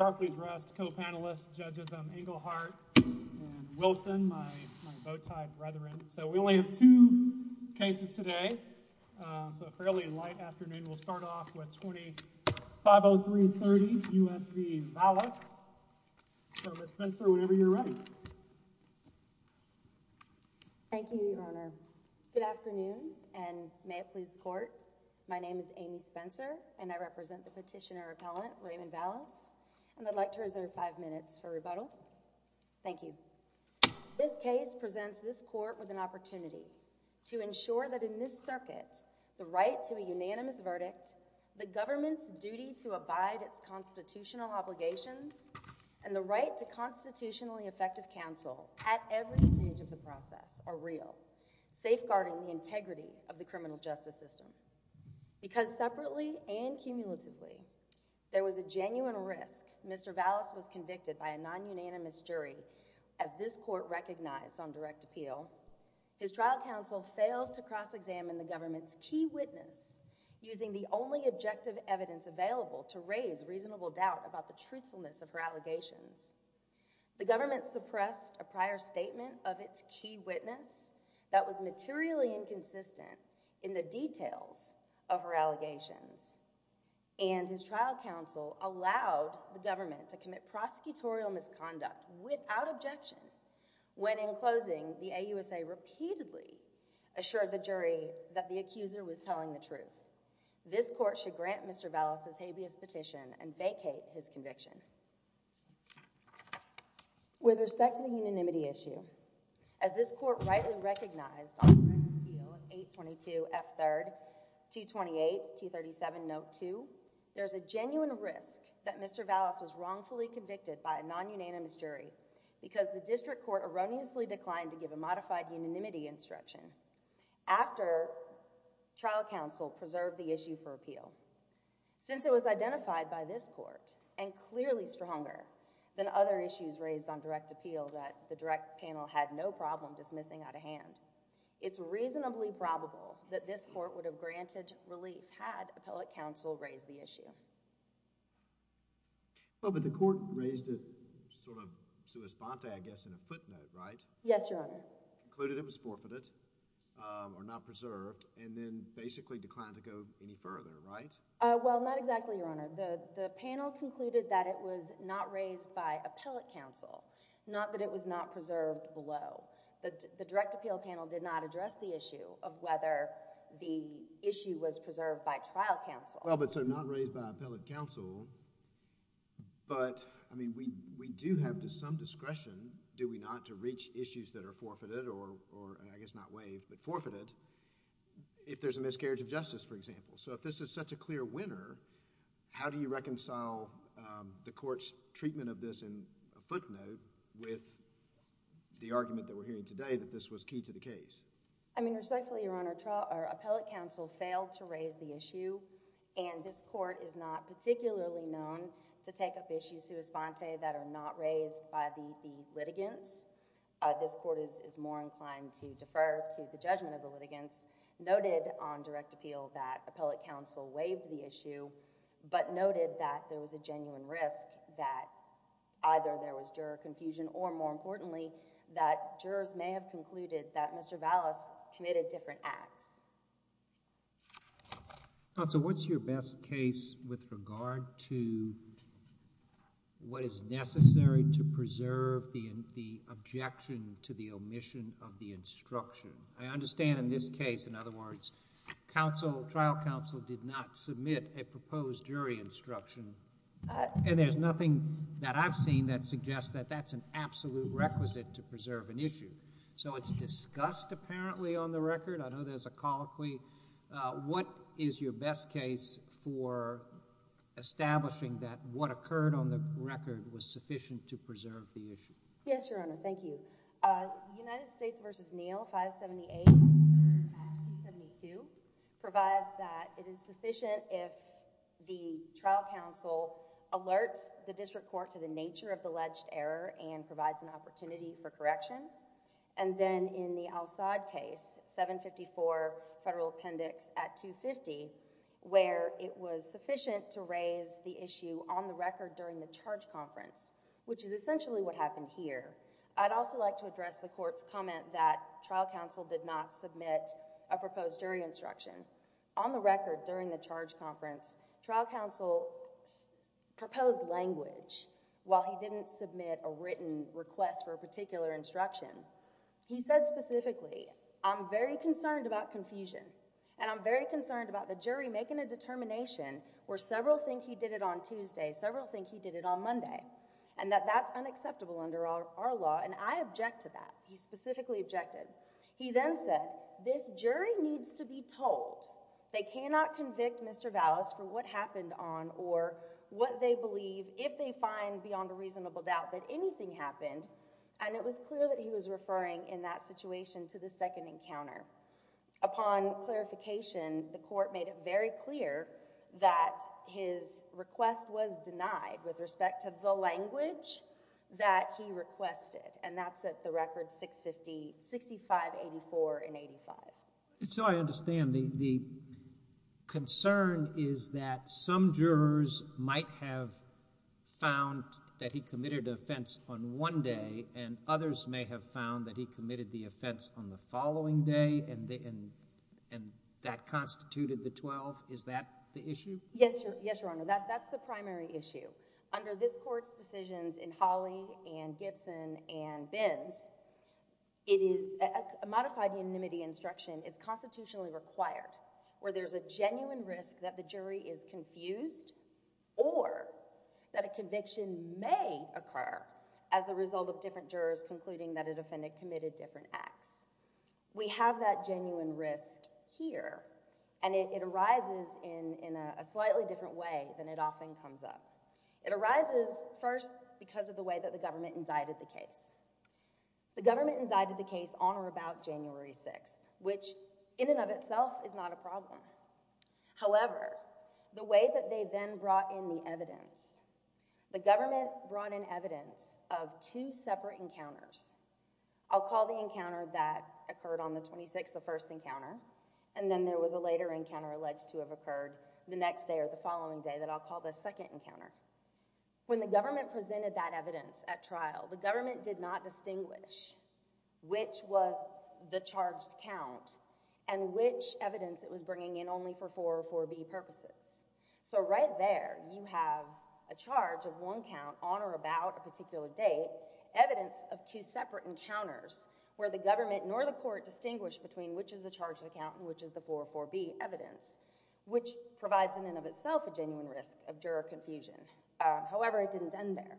Thank you, your honor. Good afternoon and may it please the court. My name is Amy Spencer and I represent the petitioner appellant, Raymond Valas, and I'd like to reserve five minutes for rebuttal. Thank you. This case presents this court with an opportunity to ensure that in this circuit, the right to a unanimous verdict, the government's duty to abide its constitutional obligations, and the right to constitutionally effective counsel at every stage of the process are real, safeguarding the integrity of the criminal justice system. Because separately and cumulatively, there was a genuine risk Mr. Valas was convicted by a non-unanimous jury, as this court recognized on direct appeal, his trial counsel failed to cross-examine the government's key witness using the only objective evidence available to raise reasonable doubt about the truthfulness of her allegations. The government suppressed a prior statement of its key witness that was materially inconsistent in the details of her allegations, and his trial counsel allowed the government to commit prosecutorial misconduct without objection, when in closing, the AUSA repeatedly assured the jury that the accuser was telling the truth. This court should grant Mr. Valas' habeas petition and the unanimity issue. As this court rightly recognized on direct appeal, 822F3, 228, 237 Note 2, there's a genuine risk that Mr. Valas was wrongfully convicted by a non-unanimous jury because the district court erroneously declined to give a modified unanimity instruction after trial counsel preserved the issue for appeal. Since it was identified by this court as correct and clearly stronger than other issues raised on direct appeal that the direct panel had no problem dismissing out of hand, it's reasonably probable that this court would have granted relief had appellate counsel raised the issue. Well, but the court raised it sort of sua sponta, I guess, in a footnote, right? Yes, Your Honor. Included it was forfeited, or not preserved, and then basically declined to go any further, right? Well, not exactly, Your Honor. The panel concluded that it was not raised by appellate counsel, not that it was not preserved below. The direct appeal panel did not address the issue of whether the issue was preserved by trial counsel. Well, but so not raised by appellate counsel, but, I mean, we do have some discretion, do we not, to reach issues that are forfeited, or I guess not waived, but forfeited, if there's a miscarriage of justice, for example. So, if this is such a clear winner, how do you reconcile the court's treatment of this in a footnote with the argument that we're hearing today that this was key to the case? I mean, respectfully, Your Honor, appellate counsel failed to raise the issue, and this court is not particularly known to take up issues sua sponta that are not raised by the litigants. This court is more inclined to defer to the judgment of the litigants noted on direct appeal that appellate counsel waived the issue, but noted that there was a genuine risk that either there was juror confusion or, more importantly, that jurors may have concluded that Mr. Vallis committed different acts. Counsel, what's your best case with regard to what is necessary to preserve the objection to the omission of the instruction? I understand in this case, in other words, trial counsel did not submit a proposed jury instruction, and there's nothing that I've seen that suggests that that's an absolute requisite to preserve an issue. So, it's discussed apparently on the record. I know there's a colloquy. What is your best case for establishing that what occurred on the record was sufficient to preserve the issue? Yes, Your Honor. Thank you. United States v. Neal, 578, at 272, provides that it is sufficient if the trial counsel alerts the district court to the nature of the alleged error and provides an opportunity for correction. Then, in the Al-Saad case, 754, federal appendix at 250, where it was sufficient to raise the issue on the record during the charge conference, which is essentially what happened here. I'd also like to address the court's comment that trial counsel did not submit a proposed jury instruction. On the record, during the charge conference, trial counsel proposed language while he didn't submit a written request for a particular instruction. He said specifically, I'm very concerned about confusion and I'm very concerned about the jury making a determination where several think he did it on Tuesday, several think he did it on Monday, and that that's unacceptable under our law, and I object to that. He specifically objected. He then said, this jury needs to be told. They cannot convict Mr. Vallis for what happened on or what they believe if they find beyond a reasonable doubt that anything happened, and it was clear that he was referring in that situation to the second encounter. Upon clarification, the court made it very clear that his request was denied with respect to the language that he requested, and that's at the record 6584 and 85. So I understand the concern is that some jurors might have found that he committed offense on one day and others may have found that he committed the offense on the following day and that constituted the twelve. Is that the issue? Yes, Your Honor. That's the primary issue. Under this court's decisions in Hawley and Gibson and Bins, a modified unanimity instruction is constitutionally required where there's a genuine risk that the jury is confused or that a conviction may occur as the result of different jurors concluding that a defendant committed different acts. We have that genuine risk here, and it arises in a slightly different way than it often comes up. It arises first because of the way that the government indicted the case. The government indicted the case on or about January 6th, which in and of itself is not a problem. However, the way that they did it is that they had two separate encounters. I'll call the encounter that occurred on the 26th the first encounter, and then there was a later encounter alleged to have occurred the next day or the following day that I'll call the second encounter. When the government presented that evidence at trial, the government did not distinguish which was the charged count and which evidence it was bringing in only for 404B purposes. So right there you have a charge of one count on or about a particular date, evidence of two separate encounters where the government nor the court distinguished between which is the charged count and which is the 404B evidence, which provides in and of itself a genuine risk of juror confusion. However, it didn't end there.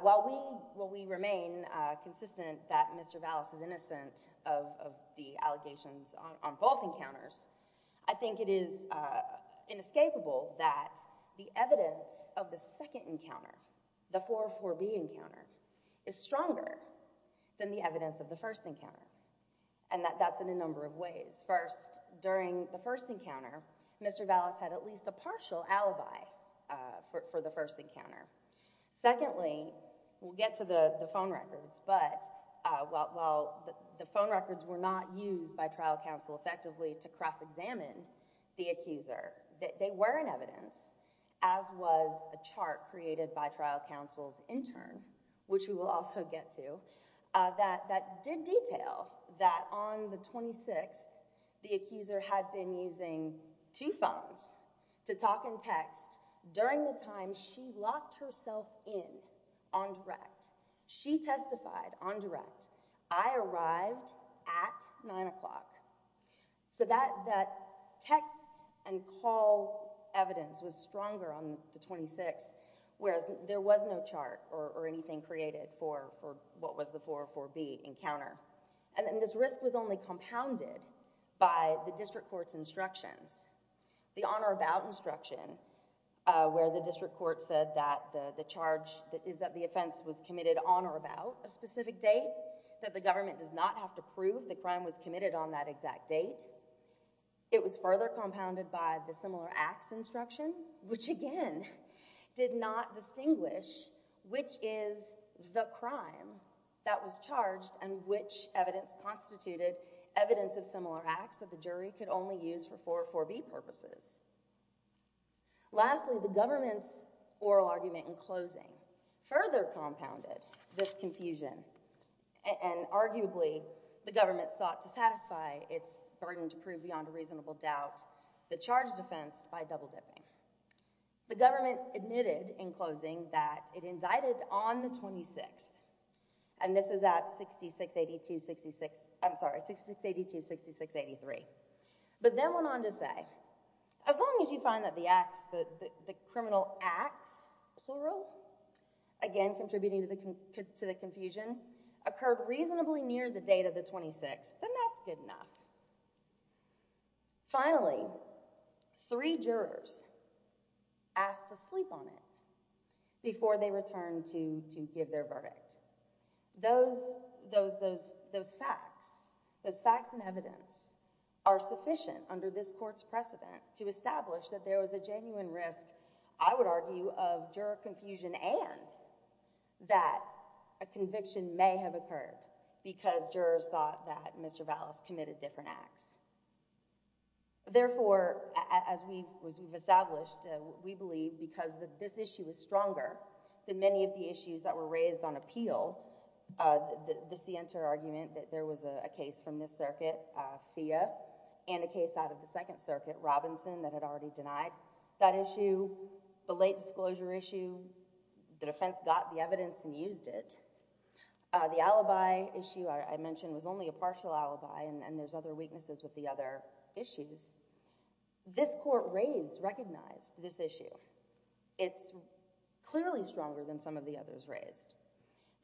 While we remain consistent that Mr. Vallis is innocent of the allegations on both encounters, I think it is inescapable that the allegations of the second encounter, the 404B encounter, is stronger than the evidence of the first encounter, and that's in a number of ways. First, during the first encounter, Mr. Vallis had at least a partial alibi for the first encounter. Secondly, we'll get to the phone records, but while the phone records were not used by trial counsel effectively to cross-examine the accuser, they were an evidence, as was a chart created by trial counsel's intern, which we will also get to, that did detail that on the 26th the accuser had been using two phones to talk and text during the time she locked herself in on direct. She testified on direct, I arrived at 9 o'clock. That text and call evidence was stronger on the 26th, whereas there was no chart or anything created for what was the 404B encounter. This risk was only compounded by the district court's instructions, the on or about instruction, where the district court said that the charge is that the offense was committed on or about a specific date, that the government does not have to prove the crime was committed on that exact date. It was further compounded by the similar acts instruction, which again did not distinguish which is the crime that was charged and which evidence constituted evidence of similar acts that the jury could only use for 404B purposes. Lastly, the government's confusion, and arguably the government sought to satisfy its burden to prove beyond a reasonable doubt the charge defense by double dipping. The government admitted in closing that it indicted on the 26th, and this is at 6682-66, I'm sorry, 6682-6683, but then went on to say, as long as you find that the acts, the criminal acts, plural, again contributing to the confusion, occurred reasonably near the date of the 26th, then that's good enough. Finally, three jurors asked to sleep on it before they returned to give their verdict. Those facts and evidence are sufficient under this court's precedent to establish that there was a genuine risk, I would argue, of juror confusion and that a conviction may have occurred because jurors thought that Mr. Vallis committed different acts. Therefore, as we've established, we believe because this issue is stronger than many of the issues that were raised on appeal, the Sienter argument that there was a case from this circuit, FIA, and a case out of the Second Circuit, Robinson, that had already denied that issue, the late disclosure issue, the defense got the evidence and used it. The alibi issue I mentioned was only a partial alibi and there's other weaknesses with the other issues. This court raised, recognized this issue. It's clearly stronger than some of the others raised.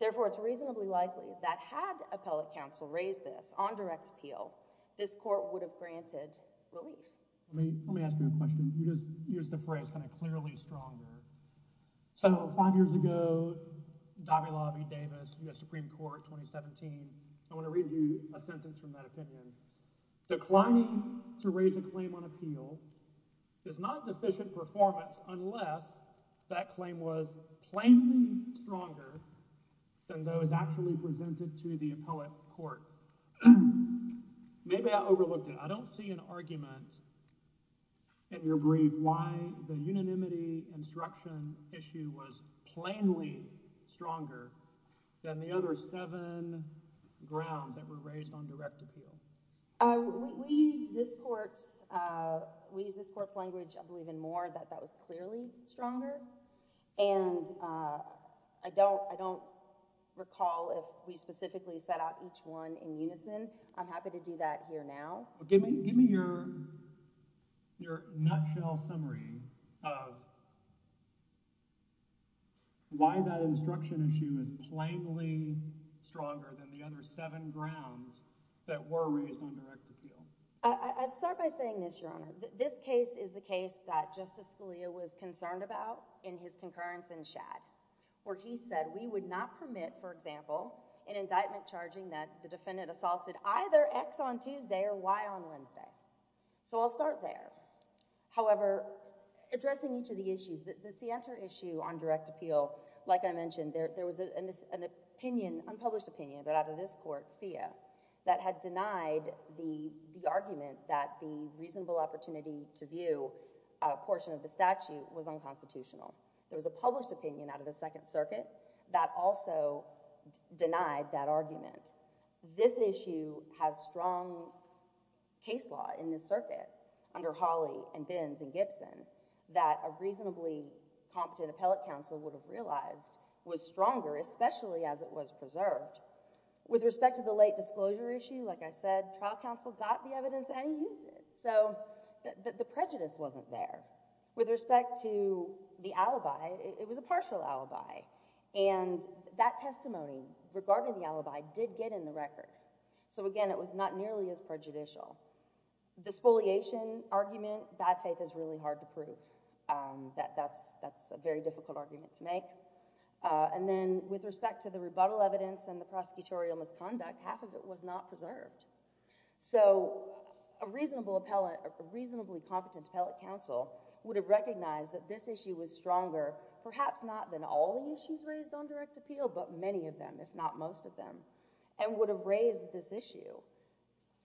Therefore, it's reasonably likely that had appellate counsel raised this on direct appeal, this court would have granted relief. Let me ask you a question. You just used the phrase, kind of, clearly stronger. So, five years ago, Davila v. Davis, U.S. Supreme Court, 2017, I want to read you a sentence from that opinion. Declining to raise a claim on appeal is not deficient performance unless that claim was plainly stronger than those actually presented to the appellate court. Maybe I overlooked it. I don't see an argument in your brief why the unanimity instruction issue was plainly stronger than the other seven grounds that were raised on direct appeal. We use this court's language, I believe, in more that that was clearly stronger and I don't recall if we specifically set out each one in unison. I'm happy to do that here now. Give me your nutshell summary of why that instruction issue is plainly stronger than the other seven grounds that were raised on direct appeal. I'd start by saying this, Your Honor. This case is the case that Justice Scalia was concerned about in his concurrence in Shad, where he said we would not permit, for example, an indictment charging that the defendant assaulted either X on Tuesday or Y on Wednesday. So, I'll start there. However, addressing each of the issues, the Sienta issue on direct appeal was a case in which there was a published opinion, but out of this court, Thea, that had denied the argument that the reasonable opportunity to view a portion of the statute was unconstitutional. There was a published opinion out of the Second Circuit that also denied that argument. This issue has strong case law in this circuit under Hawley and Bins and Gibson that a reasonably competent appellate counsel would have realized was stronger, especially as it was preserved. With respect to the late disclosure issue, like I said, trial counsel got the evidence and used it. So, the prejudice wasn't there. With respect to the alibi, it was a partial alibi, and that testimony regarding the alibi did get in the record. So, again, it was not nearly as prejudicial. The spoliation argument, bad faith is really hard to prove. That's a very difficult argument to make. And then, with respect to the rebuttal evidence and the prosecutorial misconduct, half of it was not preserved. So, a reasonable appellate, a reasonably competent appellate counsel would have recognized that this issue was stronger, perhaps not than all the issues raised on direct appeal, but many of them, if not most of them, and would have raised this issue,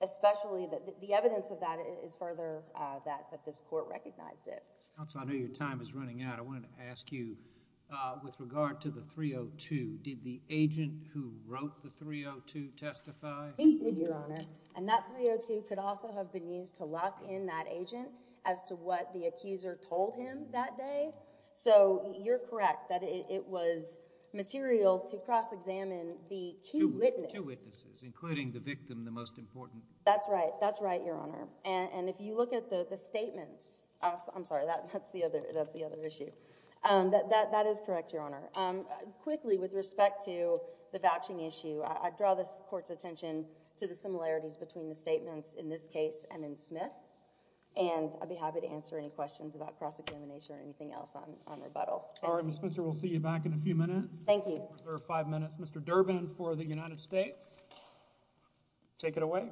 especially that the evidence of that is further that this court recognized it. Counsel, I know your time is running out. I wanted to ask you, with regard to the 302, did the agent who wrote the 302 testify? He did, Your Honor. And that 302 could also have been used to lock in that agent as to what the accuser told him that day. So, you're correct that it was material to cross-examine the two witnesses. Two witnesses, including the victim, the most important. That's right. That's right, Your Honor. And if you look at the statements, I'm sorry, that's the other issue. That is correct, Your Honor. Quickly, with respect to the vouching issue, I draw this court's attention to the similarities between the statements in this case and in Smith. And I'd be happy to answer any questions about cross-examination or anything else on rebuttal. All right, Ms. Spitzer, we'll see you back in a few minutes. Thank you. We'll reserve five minutes. Mr. Durbin for the United States. Take it away.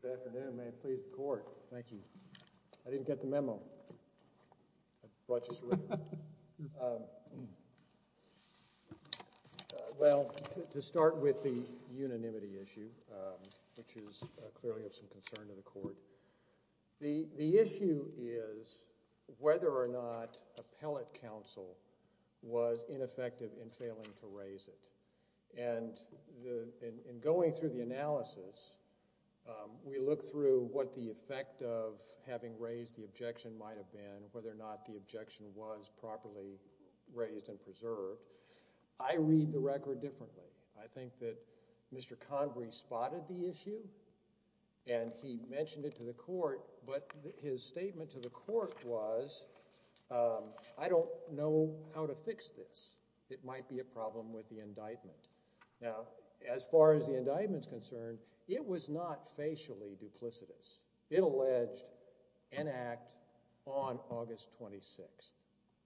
Good afternoon. May it please the court. Thank you. I didn't get the memo. Well, to start with the unanimity issue, which is clearly of some concern to the court, the issue is whether or not appellate counsel was ineffective in failing to raise it. And in going through the analysis, we look through what the effect of having raised the objection might have been, whether or not the objection was properly raised and preserved. I read the record differently. I think that Mr. Convery spotted the issue and he mentioned it to the court, but his statement to the court was, I don't know how to fix this. It might be a problem with the indictment. Now, as far as the indictment is concerned, it was not facially duplicitous. It alleged an act on August 26th.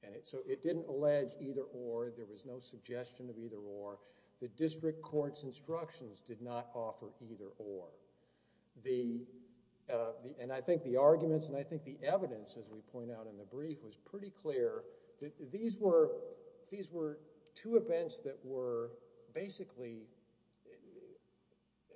And so it didn't allege either or. There was no suggestion of either or. The district court's instructions did not offer either or. And I think the arguments and I think the evidence, as we point out in the brief, was pretty clear that these were two events that were basically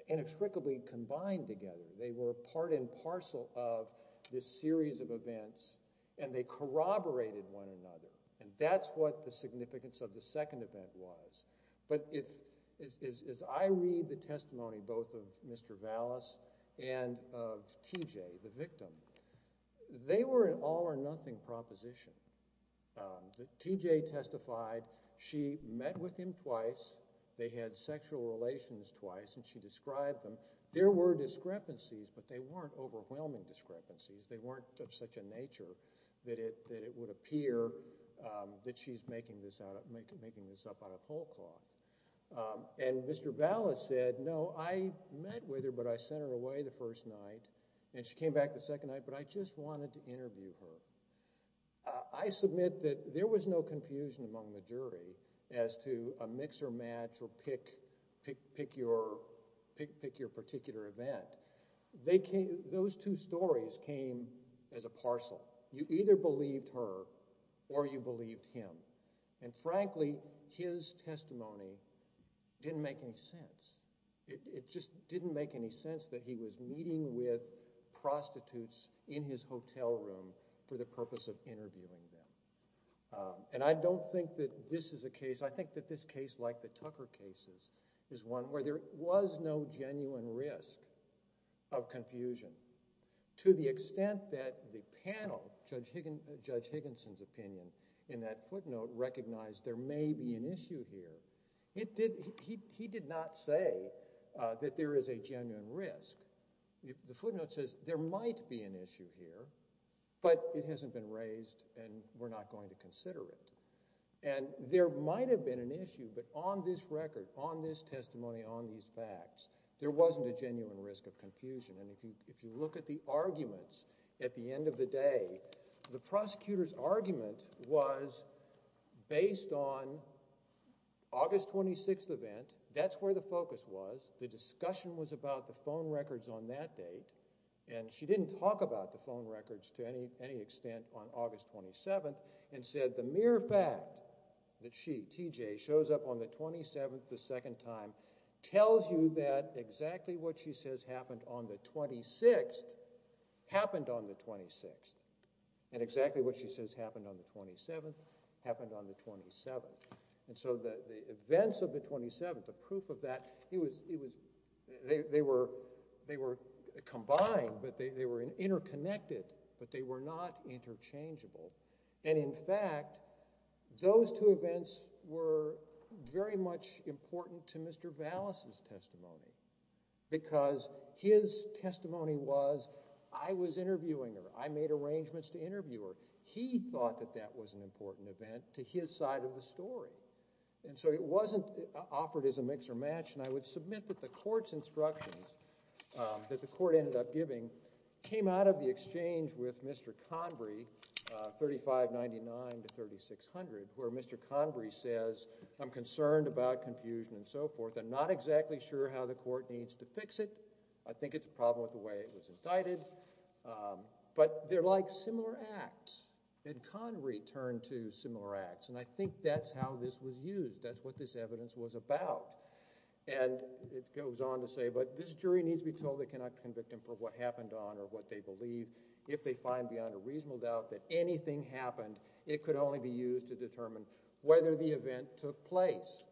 inextricably combined together. They were part and parcel of this series of events and they corroborated one another. And that's what the significance of the second event was. But as I read the testimony both of Mr. Vallis and of T.J., the victim, they were an all or nothing proposition. T.J. testified, she met with him twice, they had sexual relations twice, and she described them. There were discrepancies, but they weren't overwhelming discrepancies. They weren't of such a nature that it would appear that she's making this up out of full cloth. And Mr. Vallis said, no, I met with her, but I sent her away the first night. And she came back the second night, but I just wanted to interview her. I submit that there was no confusion among the jury as to a mix or match or pick your particular event. Those two stories came as a parcel. You either believed her or you believed him. And frankly, his testimony didn't make any sense. It just didn't make any sense that he was meeting with prostitutes in his hotel room for the purpose of interviewing them. And I don't think that this is a case, I think that this case, like the Tucker cases, is one where there was no genuine risk of confusion. To the extent that the panel, Judge Higginson's opinion, in that footnote recognized there may be an issue here. He did not say that there is a genuine risk. The footnote says there might be an issue here, but it hasn't been raised and we're not going to consider it. And there might have been an issue, but on this record, on this testimony, on these facts, there wasn't a genuine risk of confusion. And if you look at the arguments at the end of the day, the prosecutor's argument was based on August 26th event, that's where the focus was, the discussion was about the phone records on that date, and she didn't talk about the phone records to any extent on August 27th, and said the mere fact that she, T.J., shows up on the 27th the second time tells you that exactly what she says happened on the 26th happened on the 26th, and exactly what she says happened on the 27th happened on the 27th. And so the events of the 27th, the proof of that, they were combined, but they were interconnected, but they were not interchangeable. And in fact, those two events were very much important to Mr. Vallis' testimony because his testimony was, I was interviewing her, I made arrangements to interview her, he thought that that was an important event to his side of the story. And so it wasn't offered as a mix or match, and I would submit that the court's instructions that the court ended up giving came out of the exchange with Mr. Convery, 3599 to 3600, where Mr. Convery says, I'm concerned about confusion and so forth, I'm not exactly sure how the court needs to fix it, I think it's a problem with the way it was indicted, but they're like similar acts. And Convery turned to similar acts, and I think that's how this was used, that's what this evidence was about. And it goes on to say, but this jury needs to be told they cannot convict him for what happened on or what they believe. If they find beyond a reasonable doubt that anything happened, it could only be used to determine whether the event took place.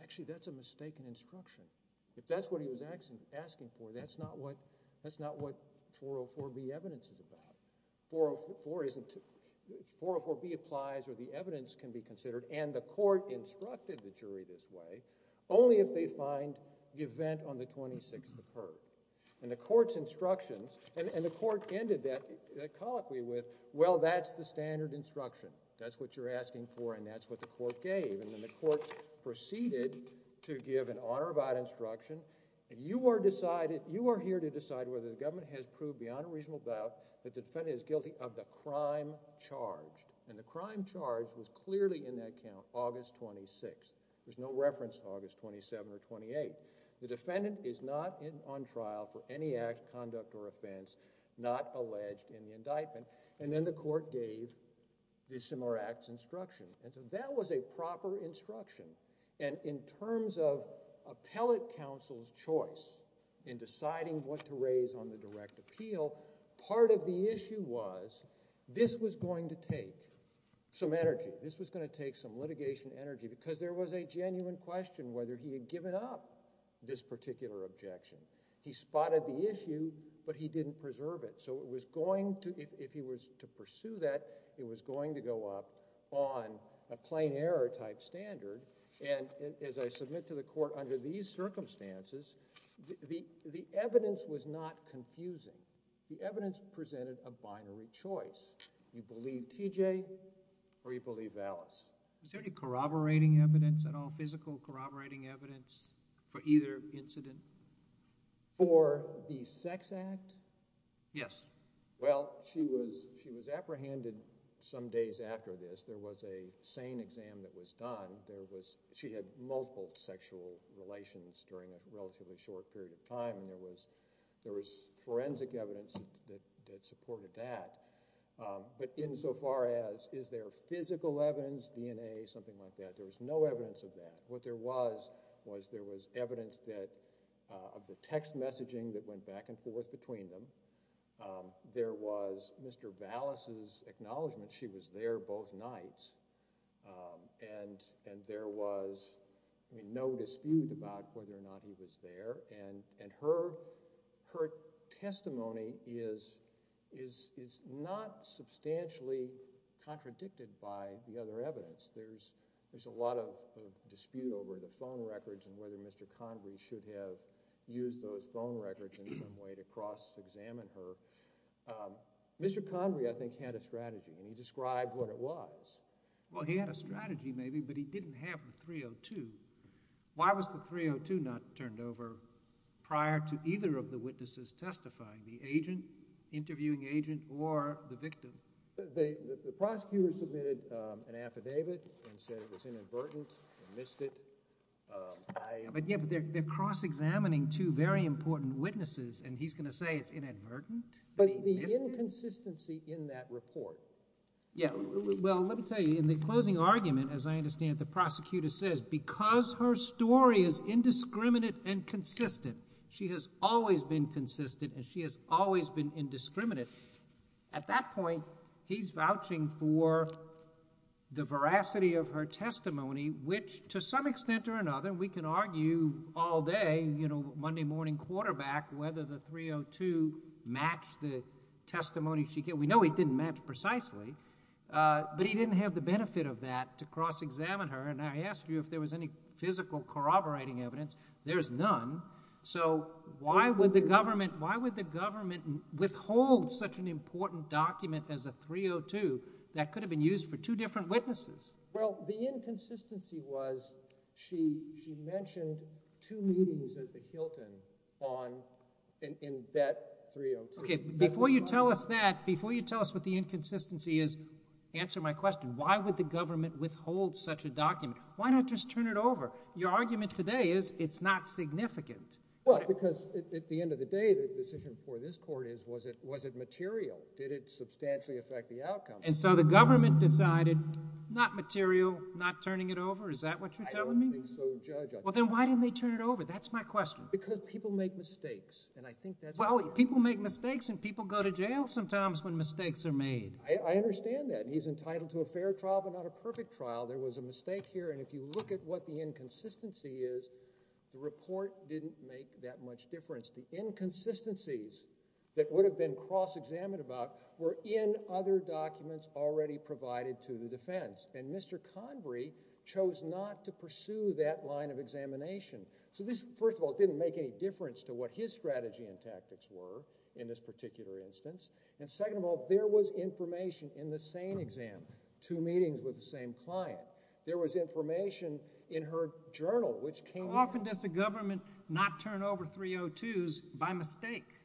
Actually, that's a mistaken instruction. If that's what he was asking for, that's not what 404B evidence is about. 404B applies where the evidence can be considered, and the court instructed the jury this way, only if they find the event on the 26th occurred. And the court's instructions, and the court ended that colloquy with, well, that's the standard instruction, that's what you're asking for, and that's what the court gave. And then the court proceeded to give an honor about instruction, and you are here to decide whether the government has proved beyond a reasonable doubt that the defendant is guilty of the crime charged. And the crime charged was clearly in that count, August 26th. There's no reference to August 27th or 28th. The defendant is not on trial for any act, conduct, or offense not alleged in the indictment. And then the court gave dissimilar acts instruction. And so that was a proper instruction. And in terms of appellate counsel's choice in deciding what to raise on the direct appeal, part of the case was going to take some energy. This was going to take some litigation energy because there was a genuine question whether he had given up this particular objection. He spotted the issue, but he didn't preserve it. So it was going to, if he was to pursue that, it was going to go up on a plain error type standard. And as I submit to the court under these circumstances, the evidence was not confusing. The evidence presented a binary choice. You believe TJ or you believe Alice. Is there any corroborating evidence at all, physical corroborating evidence for either incident? For the sex act? Yes. Well, she was apprehended some days after this. There was a sane exam that was done. She had multiple sexual relations during a relatively short period of time. And there was no evidence to support that. But in so far as is there physical evidence, DNA, something like that, there was no evidence of that. What there was, was there was evidence that of the text messaging that went back and forth between them. There was Mr. Vallis's acknowledgement she was there both nights. And there was no dispute about whether or not he was there. And her testimony is not substantially contradicted by the other evidence. There's a lot of dispute over the phone records and whether Mr. Convery should have used those phone records in some way to cross-examine her. Mr. Convery, I think, had a strategy, and he described what it was. Well, he had a strategy maybe, but he didn't have a 302. Why was the 302 not turned over prior to either of the witnesses testifying, the agent, interviewing agent, or the victim? The prosecutor submitted an affidavit and said it was inadvertent, and missed it. But they're cross-examining two very important witnesses and he's going to say it's inadvertent? But the inconsistency in that report. Yeah, well, let me tell you, in the closing argument, as I said, because her story is indiscriminate and consistent, she has always been consistent and she has always been indiscriminate. At that point, he's vouching for the veracity of her testimony, which, to some extent or another, we can argue all day, you know, Monday morning quarterback, whether the 302 matched the testimony she gave. We know it didn't match precisely, but he didn't have the benefit of that to cross-examine her, and I asked you if there was any physical corroborating evidence. There's none. So, why would the government withhold such an important document as a 302 that could have been used for two different witnesses? Well, the inconsistency was she mentioned two meetings at the Hilton on that 302. Before you tell us that, before you tell us what the inconsistency is, answer my question. Why would the government withhold such a document? Why not just turn it over? Your argument today is it's not significant. Well, because at the end of the day, the decision for this court is was it material? Did it substantially affect the outcome? And so the government decided not material, not turning it over? Is that what you're telling me? I don't think so, Judge. Well, then why didn't they turn it over? That's my question. Because people make mistakes. Well, people make mistakes and people go to jail sometimes when mistakes are made. I understand that. He's entitled to a fair trial, but not a perfect trial. There was a mistake here, and if you look at what the inconsistency is, the report didn't make that much difference. The inconsistencies that would have been cross-examined about were in other documents already provided to the defense. And Mr. Convery chose not to pursue that line of examination. So this, first of all, didn't make any difference to what his strategy and tactics were in this particular instance. And second of all, there was information in the SANE exam, two meetings with the same client. There was information in her journal, which came... How often does the government not turn over 302s by mistake?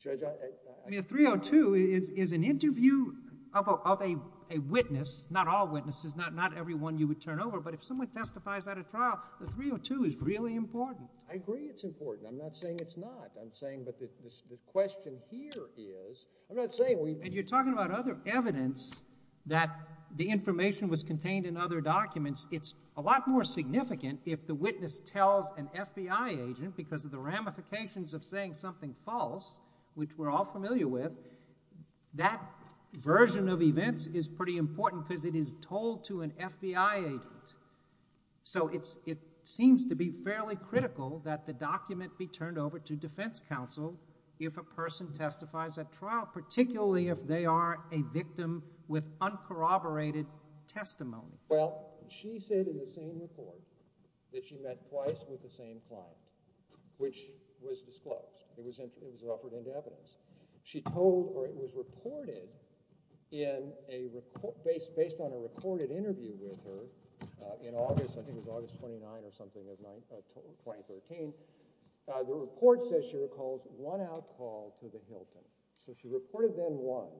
Judge, I... I mean, a 302 is an interview of a witness, not all witnesses, not everyone you would turn over, but if someone testifies at a trial, a 302 is really important. I agree it's important. I'm not saying it's not. I'm saying... but the question here is... I'm not saying we... And you're talking about other evidence that the information was contained in other documents. It's a lot more significant if the witness tells an FBI agent, because of the ramifications of saying something false, which we're all familiar with, that version of events is pretty important, because it is told to an FBI agent. So it's... Well, she said in the SANE report that she met twice with the same client, which was disclosed. It was... it was offered into evidence. She told... or it was reported in a... based on a recorded interview with her in August, I think it was August 29th or something of... or 23rd, and she told the FBI agent, the report says she recalls one out call to the Hilton. So she reported then one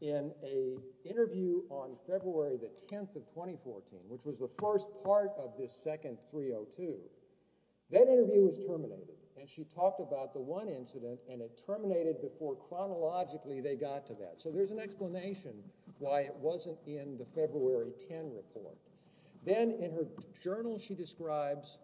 in an interview on February the 10th of 2014, which was the first part of this second 302. That interview was terminated, and she talked about the one incident, and it terminated before chronologically they got to that. So there's an explanation why it wasn't in the February 10 report. Then, in her journal, she describes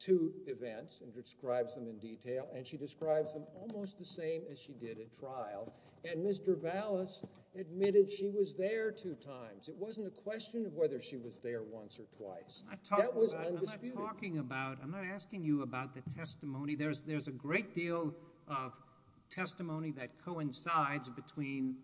two events, and describes them in detail, and she describes them almost the same as she did at trial. And Ms. Trevalos admitted she was there two times. It wasn't a question of whether she was there once or twice. That was undisputed. I'm not talking about... I'm not asking you about the testimony. There's a great deal of testimony that coincides between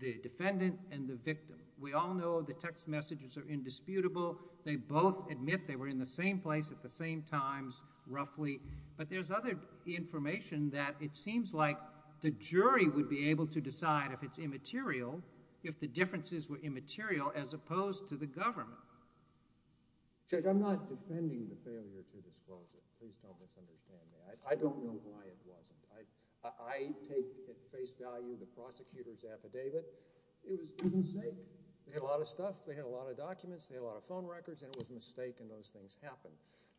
the defendant and the victim. We all know the text messages are indisputable. They both admit they were in the same place at the same times, roughly. But there's other information that it seems like the jury would be able to decide if it's immaterial, if the differences were immaterial as opposed to the government. Judge, I'm not defending the failure to disclose it. Please don't misunderstand me. I don't know why it wasn't. I take at face value the prosecutor's affidavit. It was a mistake. They had a lot of stuff. They had a lot of work to make in those things happen.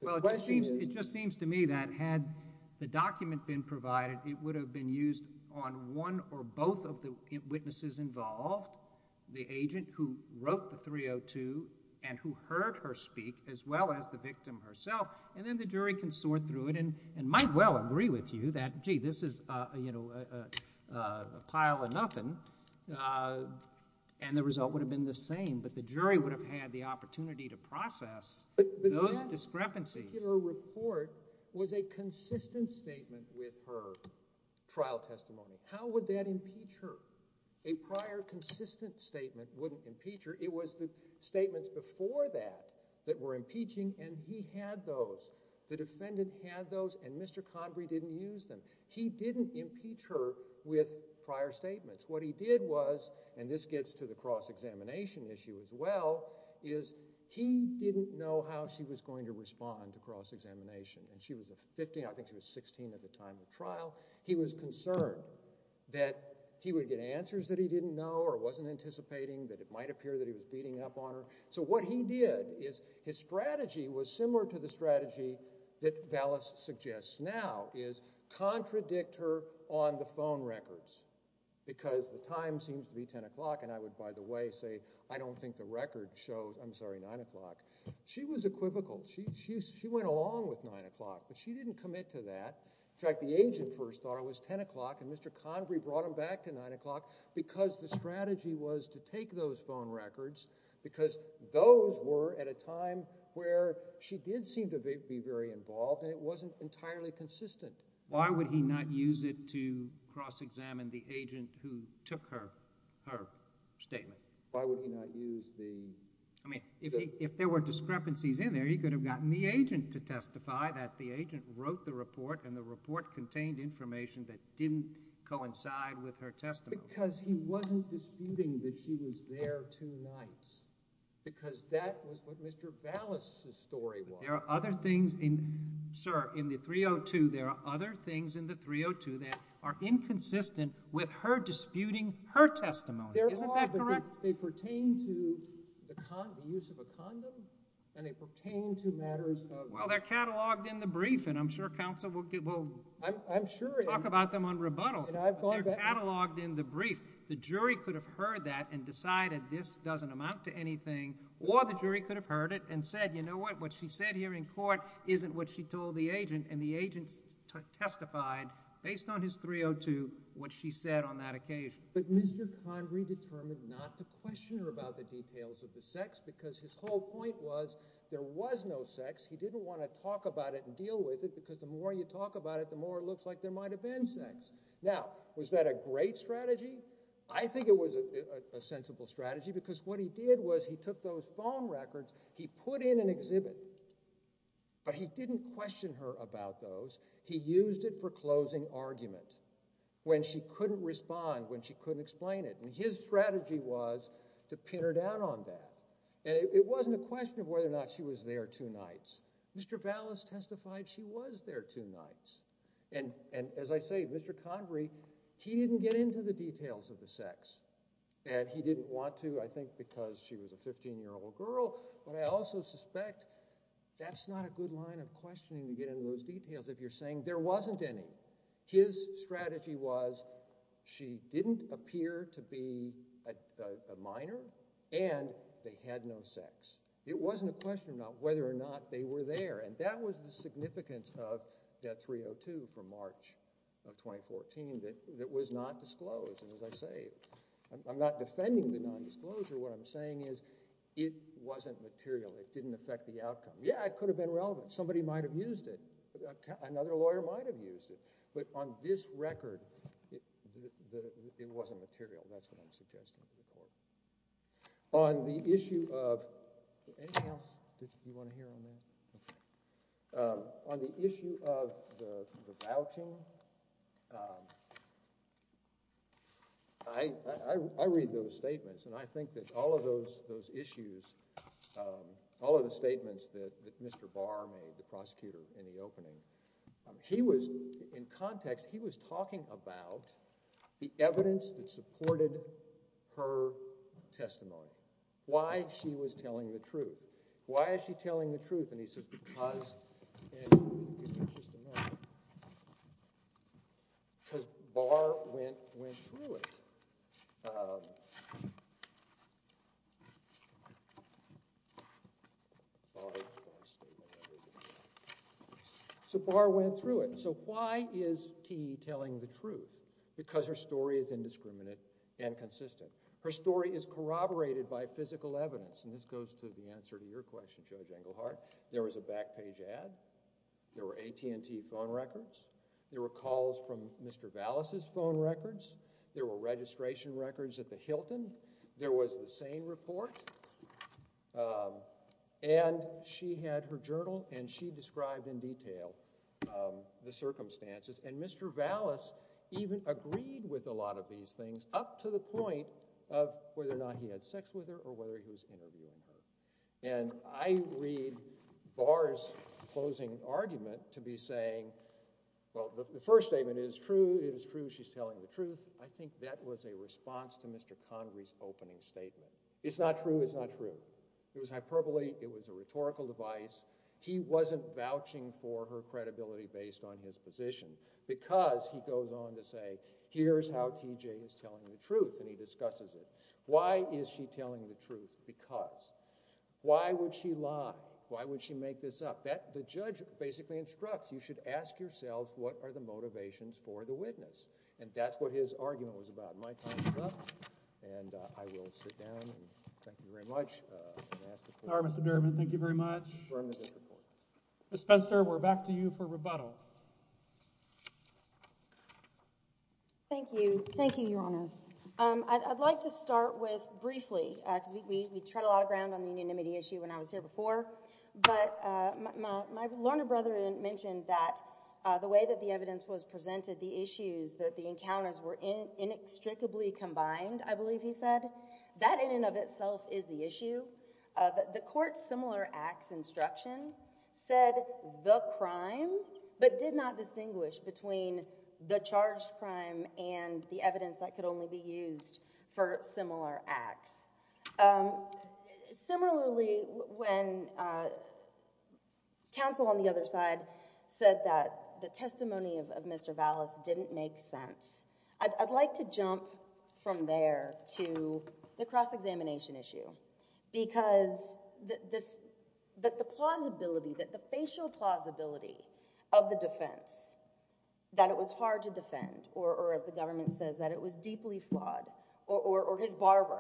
The question is... Well, it just seems to me that had the document been provided, it would have been used on one or both of the witnesses involved, the agent who wrote the 302 and who heard her speak as well as the victim herself, and then the jury can sort through it and might well agree with you that, gee, this is, you know, a pile of nothing, and the jury can sort through it. But that particular report was a consistent statement with her trial testimony. How would that impeach her? A prior consistent statement wouldn't impeach her. It was the statements before that that were impeaching, and he had those. The defendant had those, and Mr. Convery didn't use them. He didn't impeach her with prior statements. What he did was, and this gets to the cross-examination issue as well, is he didn't know how she was going to respond to cross-examination, and she was 15, I think she was 16 at the time of the trial. He was concerned that he would get answers that he didn't know or wasn't anticipating, that it might appear that he was beating up on her. So what he did is, his strategy was similar to the strategy that Vallis suggests now, is contradict her on the phone records, because the time seems to be 10 o'clock, and I would, by the way, say, I don't think the record shows, I'm sorry, 9 o'clock. She was equivocal. She went along with 9 o'clock, but she didn't commit to that. In fact, the agent first thought it was 10 o'clock, and Mr. Convery brought him back to 9 o'clock because the strategy was to take those phone records because those were at a time where she did seem to be very involved, and it wasn't entirely consistent. Why would he not use it to cross-examine the agent who took her statement? Why would he not use the... If there were discrepancies in there, he could have gotten the agent to testify that the agent wrote the report, and the report contained information that didn't coincide with her testimony. Because he wasn't disputing that she was there two nights, because that was what Mr. Vallis's story was. There are other things in, sir, in the 302, there are other things in the 302 that are inconsistent with her testimony. Isn't that correct? They pertain to the use of a condom, and they pertain to matters of... Well, they're catalogued in the brief, and I'm sure counsel will talk about them on rebuttal. They're catalogued in the brief. The jury could have heard that and decided this doesn't amount to anything, or the jury could have heard it and said, you know what, what she said here in court isn't what she told the agent, and the agent testified based on his 302 what she said on that occasion. But Mr. Convery determined not to question her about the details of the sex, because his whole point was there was no sex. He didn't want to talk about it and deal with it, because the more you talk about it, the more it looks like there might have been sex. Now, was that a great strategy? I think it was a sensible strategy, because what he did was he took those phone records, he put in an exhibit, but he didn't question her about those. He used it for closing argument, when she couldn't respond, when she couldn't explain it, and his strategy was to pin her down on that, and it wasn't a question of whether or not she was there two nights. Mr. Vallis testified she was there two nights, and as I say, Mr. Convery, he didn't get into the details of the sex, and he didn't want to, I think because she was a 15-year-old girl, but I also suspect that's not a good line of questioning to get into those details if you're saying there wasn't any. His strategy was she didn't appear to be a minor and they had no sex. It wasn't a question of whether or not they were there, and that was the significance of Debt 302 for March of 2014 that was not disclosed, and as I say, I'm not defending the nondisclosure. What I'm saying is it wasn't material. It didn't affect the outcome. Yeah, it could have been relevant. Somebody might have used it. Another lawyer might have used it, but on this record, it wasn't material. That's what I'm suggesting in the report. On the issue of anything else you want to hear on that? On the issue of the vouching, I read those statements and I think that all of those issues, all of the statements that Mr. Barr made, the prosecutor, in the opening, he was, in context, he was talking about the evidence that supported her testimony. Why she was telling the truth. Why is she telling the truth? And he says because, and here's just a moment, because Barr went through it. So Barr went through it. So why is Key telling the truth? Because her story is indiscriminate and consistent. Her story is corroborated by physical evidence, and this goes to the answer to your question, Judge Engelhardt. There was a back page ad. There were AT&T phone records. There were calls from Mr. Vallis' phone records. There were registration records at the Hilton. There was the SANE report. And she had her journal and she described in detail the circumstances. And Mr. Vallis even agreed with a lot of these things up to the point of whether or not he had sex with her or whether he was interviewing her. And I read Barr's closing argument to be saying, well, the first statement is true. It is true. She's telling the truth. I think that was a response to Mr. Connery's opening statement. It's not true. It's not true. It was hyperbole. It was a rhetorical device. He wasn't vouching for her credibility based on his position, because he goes on to say, here's how TJ is telling the truth, and he discusses it. Why is she telling the truth? Because. Why would she lie? Why would she make this up? The judge basically instructs, you should ask yourselves, what are the motivations for the witness? And that's what his argument was about. My time is up, and I will sit down. Thank you very much. Mr. Berman, thank you very much. Ms. Spencer, we're back to you for rebuttal. Thank you. Thank you, Your Honor. I'd like to start with, briefly, because we tread a lot of ground on the unanimity issue when I was here before, but my learned brethren mentioned that the way that the evidence was presented, the issues that the encounters were inextricably combined, I believe he said, that in and of itself is the issue. The court's similar acts instruction said the crime, but did not distinguish between the charged crime and the evidence that could only be used for similar acts. Similarly, when counsel on the other side said that the testimony of Mr. Vallis didn't make sense, I'd like to jump from there to the cross-examination issue because the plausibility, the facial plausibility of the defense, that it was hard to defend, or as the government says, that it was deeply flawed, or his barber,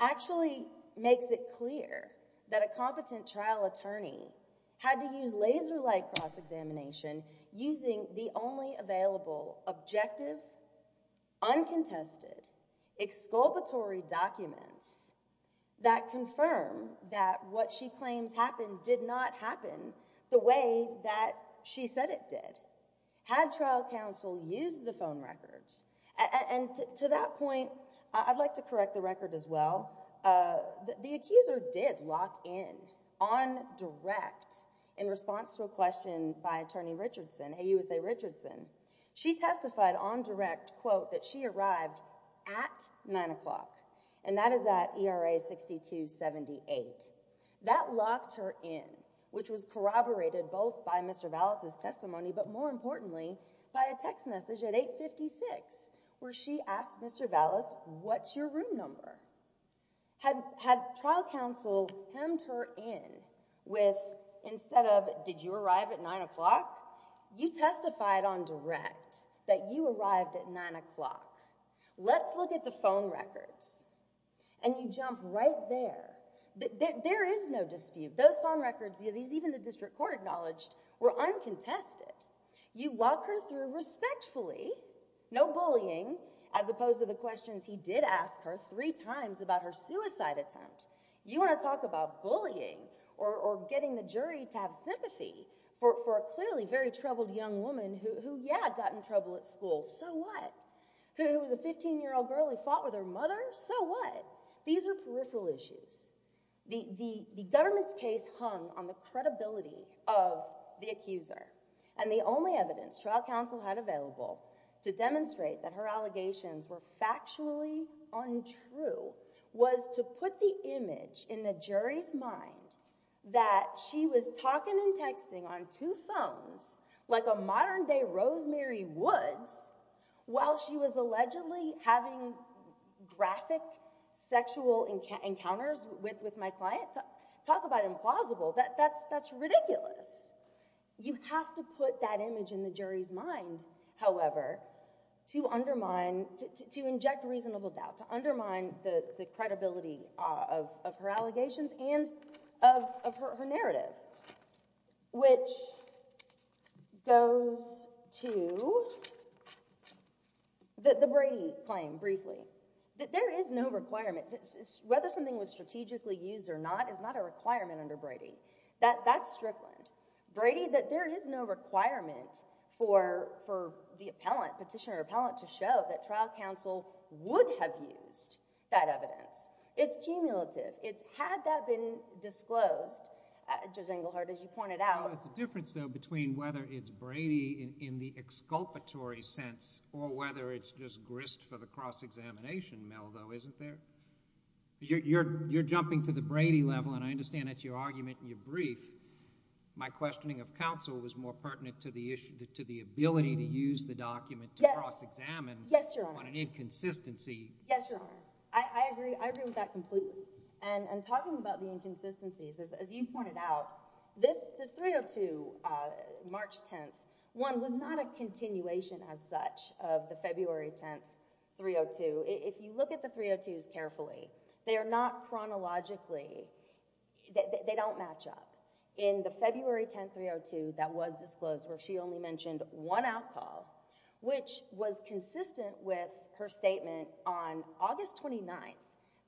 actually makes it clear that a competent trial attorney had to use laser-like cross-examination using the only available objective, uncontested, exculpatory documents that confirm that what she claims happened did not happen the way that she said it did. Had trial counsel used the phone records and to that point, I'd like to correct the record as well, the accuser did lock in on direct in response to a question by attorney Richardson, AUSA Richardson, she testified on direct, quote, that she arrived at 9 o'clock, and that is at ERA 6278. That locked her in, which was corroborated both by Mr. Vallis' testimony, but more importantly, by a text message at 856, where she asked Mr. Vallis, what's your room number? Had trial counsel hemmed her in with, instead of, did you arrive at 9 o'clock? You testified on direct that you arrived at 9 o'clock. Let's look at the phone records, and you jump right there. There is no dispute, those phone records, even the district court acknowledged, were uncontested. You walk her through respectfully, no bullying, as opposed to the questions he did ask her three times about her suicide attempt. You want to talk about bullying, or getting the jury to have sympathy for a clearly very troubled young woman who, yeah, got in trouble at school, so what? Who was a 15-year-old girl who fought with her mother, so what? These are peripheral issues. The government's case hung on the credibility of the accuser, and the only evidence trial counsel had available to demonstrate that her allegations were factually untrue was to put the image in the jury's mind that she was talking and texting on two phones like a modern-day Rosemary Woods while she was allegedly having graphic sexual encounters with my client. Talk about implausible. That's ridiculous. You have to put that image in the jury's mind, however, to undermine, to inject reasonable doubt, to undermine the credibility of her allegations and of her narrative, which goes to the Brady claim, briefly, that there is no requirement. Whether something was strategically used or not is not a requirement under Brady. That's Strickland. Brady, that there is no requirement for the petitioner or would have used that evidence. It's cumulative. Had that been disclosed, Judge Engelhardt, as you pointed out There's a difference, though, between whether it's Brady in the exculpatory sense or whether it's just grist for the cross-examination mill, though, isn't there? You're jumping to the Brady level, and I understand that's your argument in your brief. My questioning of counsel was more pertinent to the ability to use the document to cross-examine on an inconsistency. Yes, Your Honor. I agree with that completely. And talking about the inconsistencies, as you pointed out, this 302, March 10th, one, was not a continuation as such of the February 10th 302. If you look at the 302s carefully, they are not chronologically, they don't match up. In the February 10th 302 that was disclosed, where she only mentioned one out-call, which was consistent with her statement on August 29th,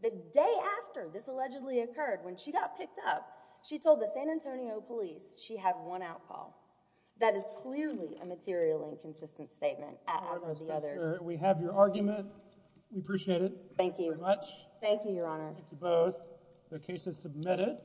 the day after this allegedly occurred, when she got picked up, she told the San Antonio police she had one out-call. That is clearly a materially inconsistent statement as are the others. We have your argument. We appreciate it. Thank you very much. Thank you, Your Honor. Thank you both. The case is submitted.